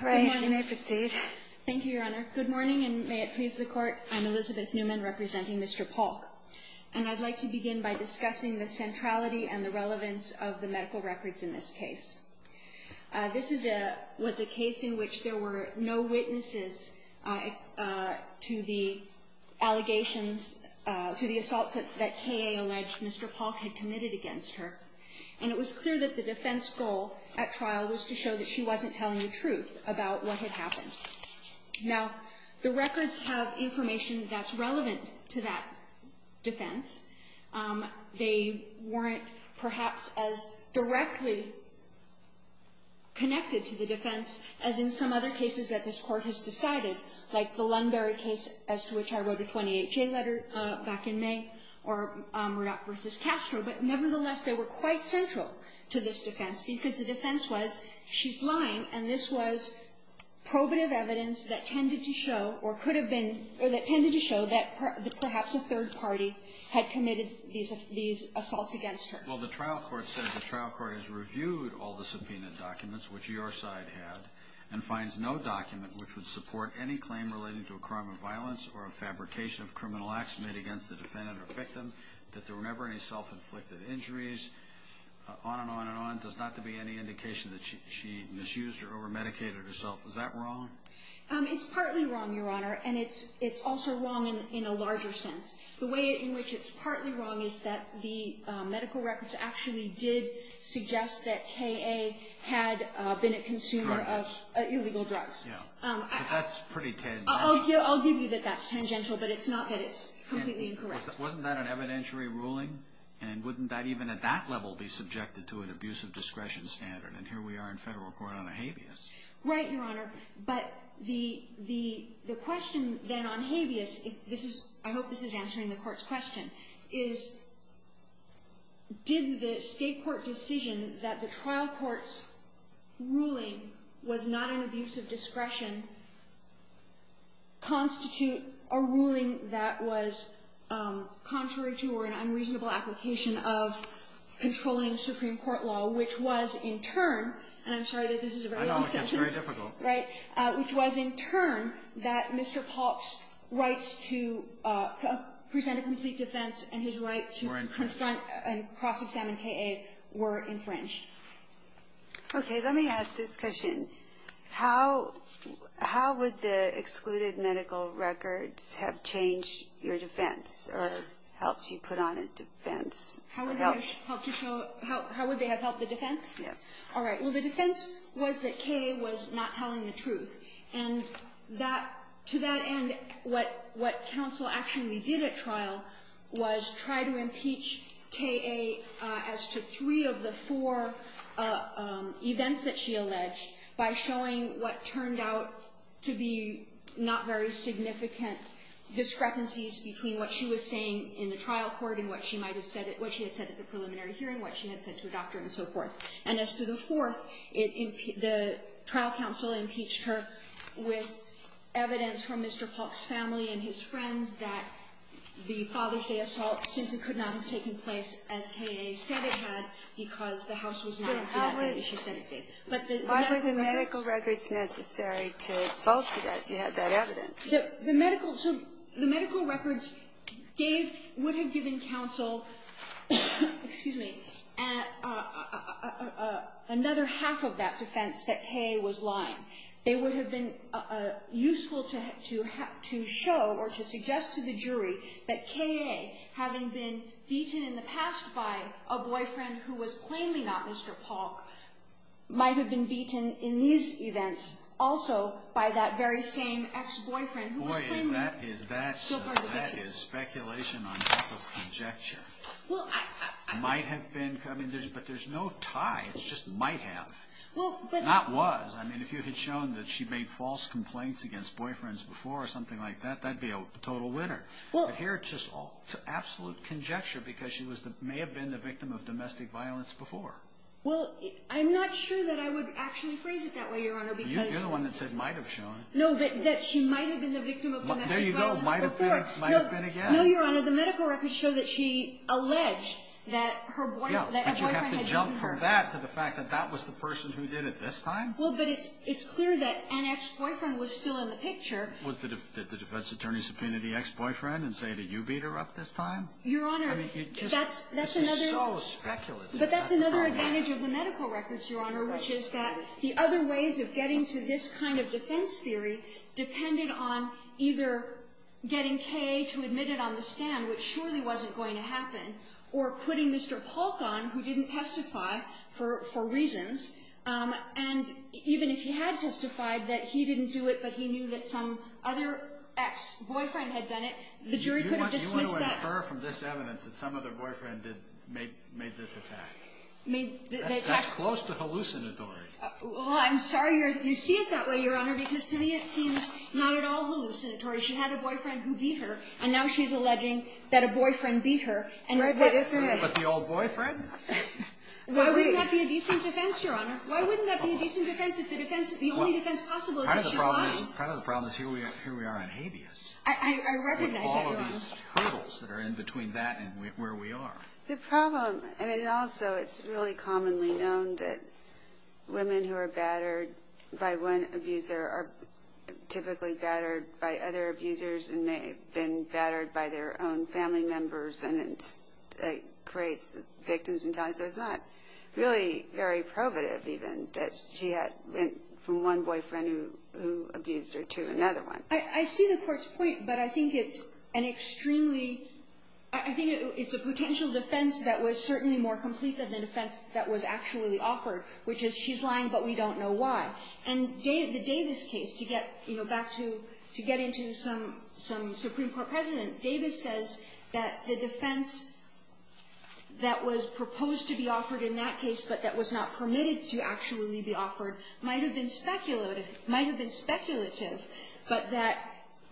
Good morning. You may proceed. Thank you, Your Honor. Good morning, and may it please the Court, I'm Elizabeth Newman, representing Mr. Palk. And I'd like to begin by discussing the centrality and the relevance of the medical records in this case. This was a case in which there were no witnesses to the allegations, to the assaults that K.A. alleged Mr. Palk had committed against her. And it was clear that the defense goal at trial was to show that she wasn't telling the truth about what had happened. Now, the records have information that's relevant to that defense. They weren't perhaps as directly connected to the defense as in some other cases that this Court has decided, like the Lunbury case, as to which I wrote a 28-J letter back in May, or Murdock v. Castro. But nevertheless, they were quite central to this defense because the defense was she's lying, and this was probative evidence that tended to show or could have been or that tended to show that perhaps a third party had committed these assaults against her. Well, the trial court said the trial court has reviewed all the subpoenaed documents, which your side had, and finds no document which would support any claim relating to a crime of violence or a fabrication of criminal acts made against the defendant or victim, that there were never any self-inflicted injuries, on and on and on. There's not to be any indication that she misused or over-medicated herself. Is that wrong? It's partly wrong, Your Honor, and it's also wrong in a larger sense. The way in which it's partly wrong is that the medical records actually did suggest that K.A. had been a consumer of illegal drugs. Yeah, but that's pretty tangential. I'll give you that that's tangential, but it's not that it's completely incorrect. Wasn't that an evidentiary ruling? And wouldn't that even at that level be subjected to an abuse of discretion standard? And here we are in Federal court on a habeas. Right, Your Honor. But the question then on habeas, I hope this is answering the Court's question, is did the State court decision that the trial court's ruling was not an abuse of discretion constitute a ruling that was contrary to or an unreasonable application of controlling Supreme Court law, which was in turn, and I'm sorry that this is a very long sentence. I know. It's very difficult. Right? Which was in turn that Mr. Polk's rights to present a complete defense and his right to confront and cross-examine K.A. were infringed. Okay. Let me ask this question. How would the excluded medical records have changed your defense or helped you put on a defense? How would they have helped the defense? Yes. All right. Well, the defense was that K.A. was not telling the truth. And to that end, what counsel actually did at trial was try to impeach K.A. as to three of the four events that she alleged by showing what turned out to be not very significant discrepancies between what she was saying in the trial court and what she might have said at the preliminary hearing, what she had said to a doctor and so forth. And as to the fourth, the trial counsel impeached her with evidence from Mr. Polk's family and his friends that the Father's Day assault simply could not have taken place as K.A. said it had because the house was not acting as she said it did. Why were the medical records necessary to falsify that if you had that evidence? The medical records gave or would have given counsel another half of that defense that K.A. was lying. They would have been useful to show or to suggest to the jury that K.A. having been beaten in the past by a boyfriend who was plainly not Mr. Polk might have been beaten in these events also by that very same ex-boyfriend who was plainly still part of the picture. Boy, is that speculation on top of conjecture. Well, I thought. Might have been. But there's no tie. It's just might have. Not was. I mean, if you had shown that she made false complaints against boyfriends before or something like that, that'd be a total winner. But here it's just absolute conjecture because she may have been the victim of domestic violence before. Well, I'm not sure that I would actually phrase it that way, Your Honor, because. You're the one that said might have shown. No, that she might have been the victim of domestic violence before. There you go. Might have been. Might have been again. No, Your Honor. The medical records show that she alleged that her boyfriend had beaten her. Compare that to the fact that that was the person who did it this time? Well, but it's clear that an ex-boyfriend was still in the picture. Was the defense attorney subpoenaed the ex-boyfriend and say, did you beat her up this time? Your Honor, that's another. This is so speculative. But that's another advantage of the medical records, Your Honor, which is that the other ways of getting to this kind of defense theory depended on either getting K.A. to admit it on the stand, which surely wasn't going to happen, or putting Mr. Polk on who didn't testify for reasons. And even if he had testified that he didn't do it, but he knew that some other ex-boyfriend had done it, the jury couldn't dismiss that. Do you want to infer from this evidence that some other boyfriend made this attack? That's close to hallucinatory. Well, I'm sorry you see it that way, Your Honor, because to me it seems not at all hallucinatory. She had a boyfriend who beat her, and now she's alleging that a boyfriend beat her. It was the old boyfriend? Why wouldn't that be a decent defense, Your Honor? Why wouldn't that be a decent defense if the only defense possible is that she lied? Part of the problem is here we are on habeas. I recognize that, Your Honor. With all of these hurdles that are in between that and where we are. The problem, and also it's really commonly known that women who are battered by one abuser are typically battered by other abusers and may have been battered by their own family members and it creates victims and ties. So it's not really very probative even that she went from one boyfriend who abused her to another one. I see the Court's point, but I think it's an extremely, I think it's a potential defense that was certainly more complete than the defense that was actually offered, which is she's lying but we don't know why. And the Davis case, to get back to, to get into some Supreme Court precedent, Davis says that the defense that was proposed to be offered in that case but that was not permitted to actually be offered might have been speculative, might have been speculative, but that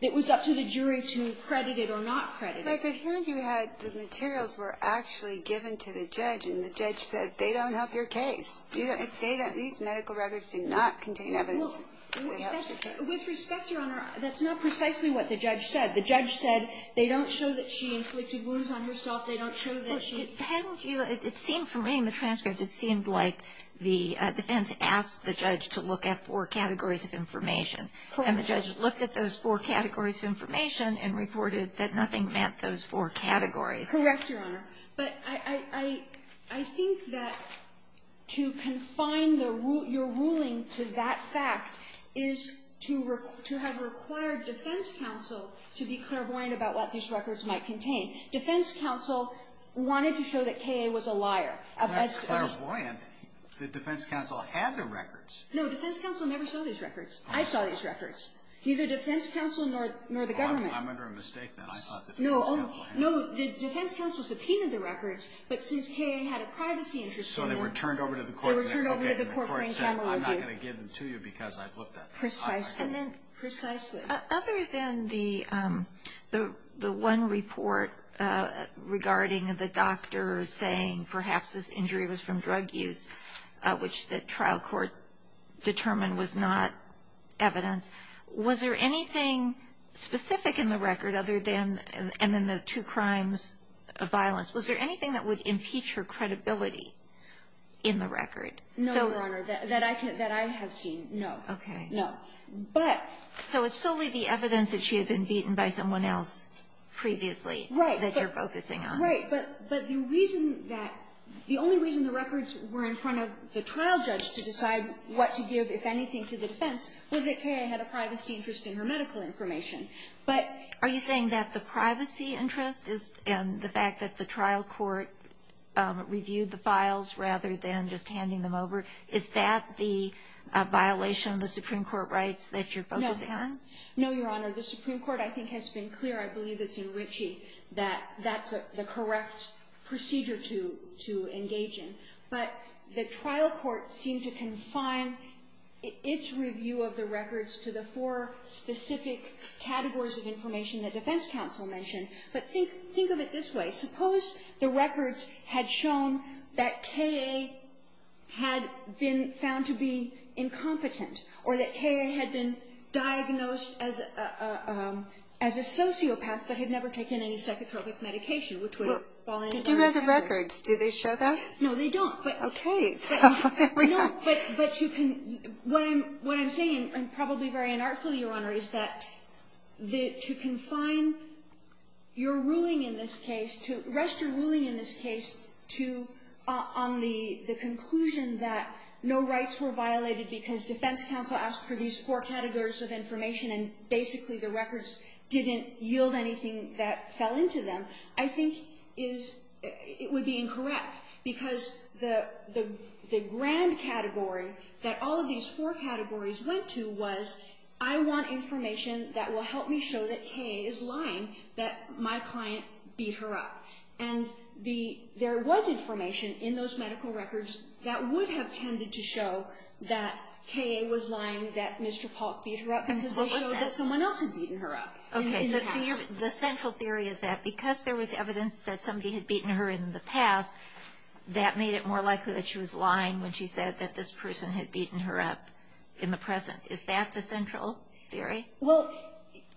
it was up to the jury to credit it or not credit it. But here you had the materials were actually given to the judge and the judge said, they don't have your case. These medical records do not contain evidence. With respect, Your Honor, that's not precisely what the judge said. The judge said they don't show that she inflicted wounds on herself. They don't show that she ---- Kagan. Well, it depends. It seemed for me in the transcript, it seemed like the defense asked the judge to look at four categories of information. And the judge looked at those four categories of information and reported that nothing met those four categories. Correct, Your Honor. But I think that to confine your ruling to that fact is to have required defense counsel to be clairvoyant about what these records might contain. Defense counsel wanted to show that K.A. was a liar. That's clairvoyant. The defense counsel had the records. No, defense counsel never saw these records. I saw these records. Neither defense counsel nor the government. I'm under a mistake now. I thought the defense counsel had them. No, the defense counsel subpoenaed the records, but since K.A. had a privacy interest in them ---- So they were turned over to the court and they were okay. They were turned over to the court and the court said, I'm not going to give them to you because I've looked at this. Precisely. Precisely. Other than the one report regarding the doctor saying perhaps this injury was from drug use, which the trial court determined was not evidence, was there anything specific in the record other than the two crimes of violence? Was there anything that would impeach her credibility in the record? No, Your Honor, that I have seen, no. Okay. No. But ---- So it's solely the evidence that she had been beaten by someone else previously that you're focusing on. Right. But the reason that the only reason the records were in front of the trial judge to decide what to give, if anything, to the defense was that K.A. had a privacy interest in her medical information. But ---- Are you saying that the privacy interest and the fact that the trial court reviewed the files rather than just handing them over, is that the violation of the Supreme Court rights that you're focusing on? No, Your Honor. The Supreme Court, I think, has been clear. I believe it's in Ritchie that that's the correct procedure to engage in. But the trial court seemed to confine its review of the records to the four specific categories of information that defense counsel mentioned. But think of it this way. Suppose the records had shown that K.A. had been found to be incompetent or that K.A. had been diagnosed as a sociopath but had never taken any psychotropic medication, which would have fallen under the four categories. Well, did you know the records? Do they show that? No, they don't. But ---- Okay. So here we are. No, but you can ---- What I'm saying, and probably very unartful, Your Honor, is that to confine your ruling in this case to ---- rest your ruling in this case to ---- on the conclusion that no rights were violated because defense counsel asked for these four categories of information and basically the records didn't yield anything that fell into them, I think is ---- it would be incorrect. Because the grand category that all of these four categories went to was I want information that will help me show that K.A. is lying, that my client beat her up. And there was information in those medical records that would have tended to show that K.A. was lying, that Mr. Polk beat her up because they showed that someone else had beaten her up. Okay. So the central theory is that because there was evidence that somebody had beaten her in the past, that made it more likely that she was lying when she said that this person had beaten her up in the present. Is that the central theory? Well,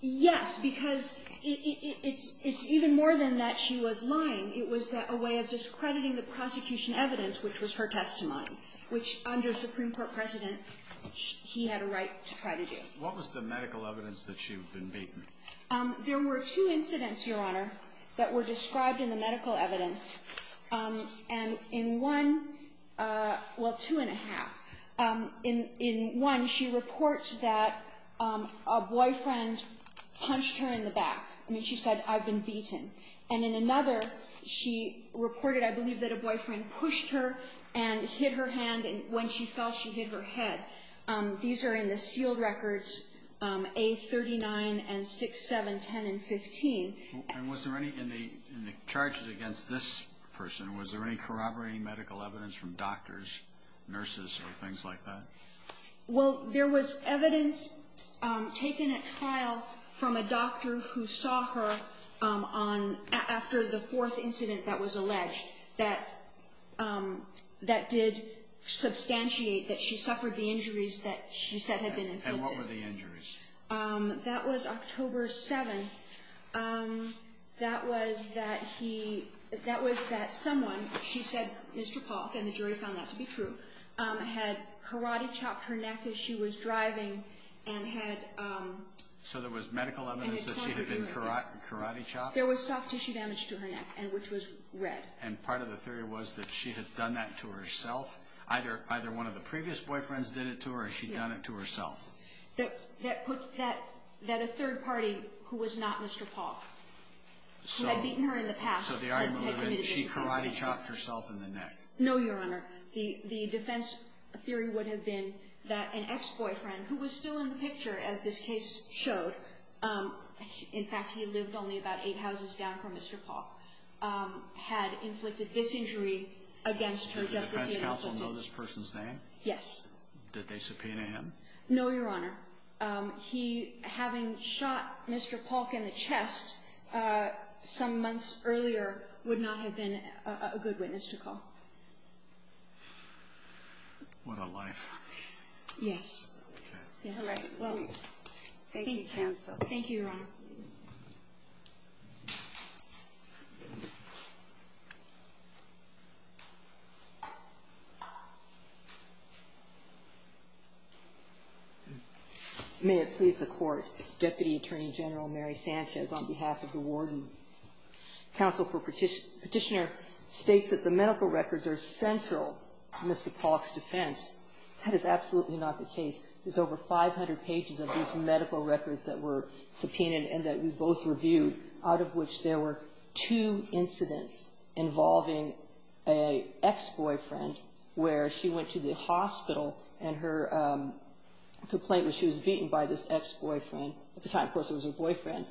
yes, because it's even more than that she was lying. It was a way of discrediting the prosecution evidence, which was her testimony, which under Supreme Court precedent he had a right to try to do. What was the medical evidence that she had been beaten? There were two incidents, Your Honor, that were described in the medical evidence. And in one ---- well, two and a half. In one, she reports that a boyfriend punched her in the back. I mean, she said, I've been beaten. And in another, she reported, I believe, that a boyfriend pushed her and hit her hand, and when she fell, she hit her head. These are in the sealed records, A39 and 6, 7, 10, and 15. And was there any in the charges against this person, was there any corroborating medical evidence from doctors, nurses, or things like that? Well, there was evidence taken at trial from a doctor who saw her on ---- after the fourth incident that was alleged that did substantiate that she suffered the injuries that she said had been inflicted. And what were the injuries? That was October 7th. That was that he ---- that was that someone, she said Mr. Polk, and the jury found that to be true, had karate chopped her neck as she was driving and had ---- So there was medical evidence that she had been karate chopped? There was soft tissue damage to her neck, which was red. And part of the theory was that she had done that to herself? Either one of the previous boyfriends did it to her or she'd done it to herself? That put that ---- that a third party, who was not Mr. Polk, who had beaten her in the past, had committed this offense. So the argument was that she karate chopped herself in the neck? No, Your Honor. The defense theory would have been that an ex-boyfriend, who was still in the picture, as this case showed, in fact, he lived only about eight houses down from Mr. Polk, had inflicted this injury against her just to see an alternate. Did the defense counsel know this person's name? Yes. Did they subpoena him? No, Your Honor. He, having shot Mr. Polk in the chest some months earlier, would not have been a good witness to call. What a life. Yes. Thank you, counsel. Thank you, Your Honor. May it please the Court, Deputy Attorney General Mary Sanchez, on behalf of the warden. Counsel for Petitioner states that the medical records are central to Mr. Polk's defense. That is absolutely not the case. There's over 500 pages of these medical records that were subpoenaed and that we both reviewed, out of which there were two incidents involving an ex-boyfriend where she went to the hospital and her complaint was she was beaten by this ex-boyfriend. At the time, of course, it was her boyfriend.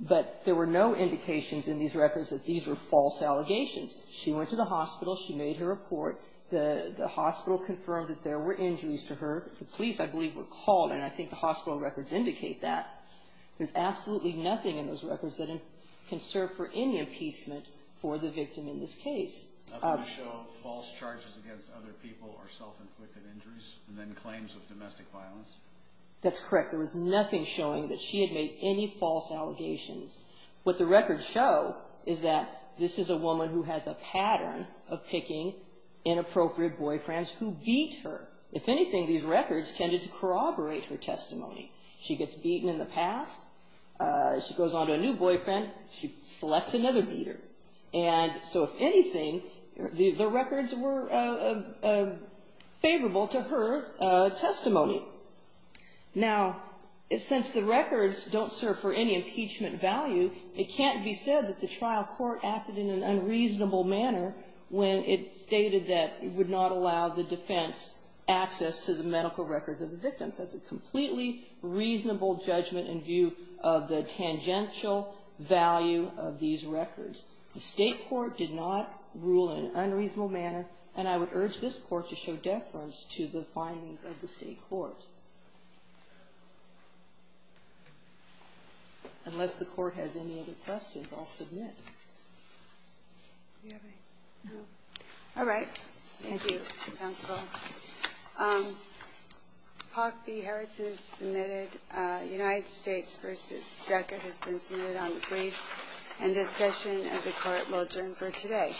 But there were no indications in these records that these were false allegations. She went to the hospital. She made her report. The hospital confirmed that there were injuries to her. The police, I believe, were called, and I think the hospital records indicate that. There's absolutely nothing in those records that can serve for any impeachment for the victim in this case. Nothing to show false charges against other people or self-inflicted injuries and then claims of domestic violence? That's correct. There was nothing showing that she had made any false allegations. What the records show is that this is a woman who has a pattern of picking inappropriate boyfriends who beat her. If anything, these records tended to corroborate her testimony. She gets beaten in the past. She goes on to a new boyfriend. She selects another beater. So, if anything, the records were favorable to her testimony. Now, since the records don't serve for any impeachment value, it can't be said that the trial court acted in an unreasonable manner when it stated that it would not allow the defense access to the medical records of the victims. That's a completely reasonable judgment in view of the tangential value of these records. The state court did not rule in an unreasonable manner, and I would urge this court to show deference to the findings of the state court. Unless the court has any other questions, I'll submit. All right. Thank you, counsel. Park B. Harrison is submitted. United States v. DECA has been submitted on the briefs, and this session of the court will adjourn for today. All rise. The clerk will ascend the center.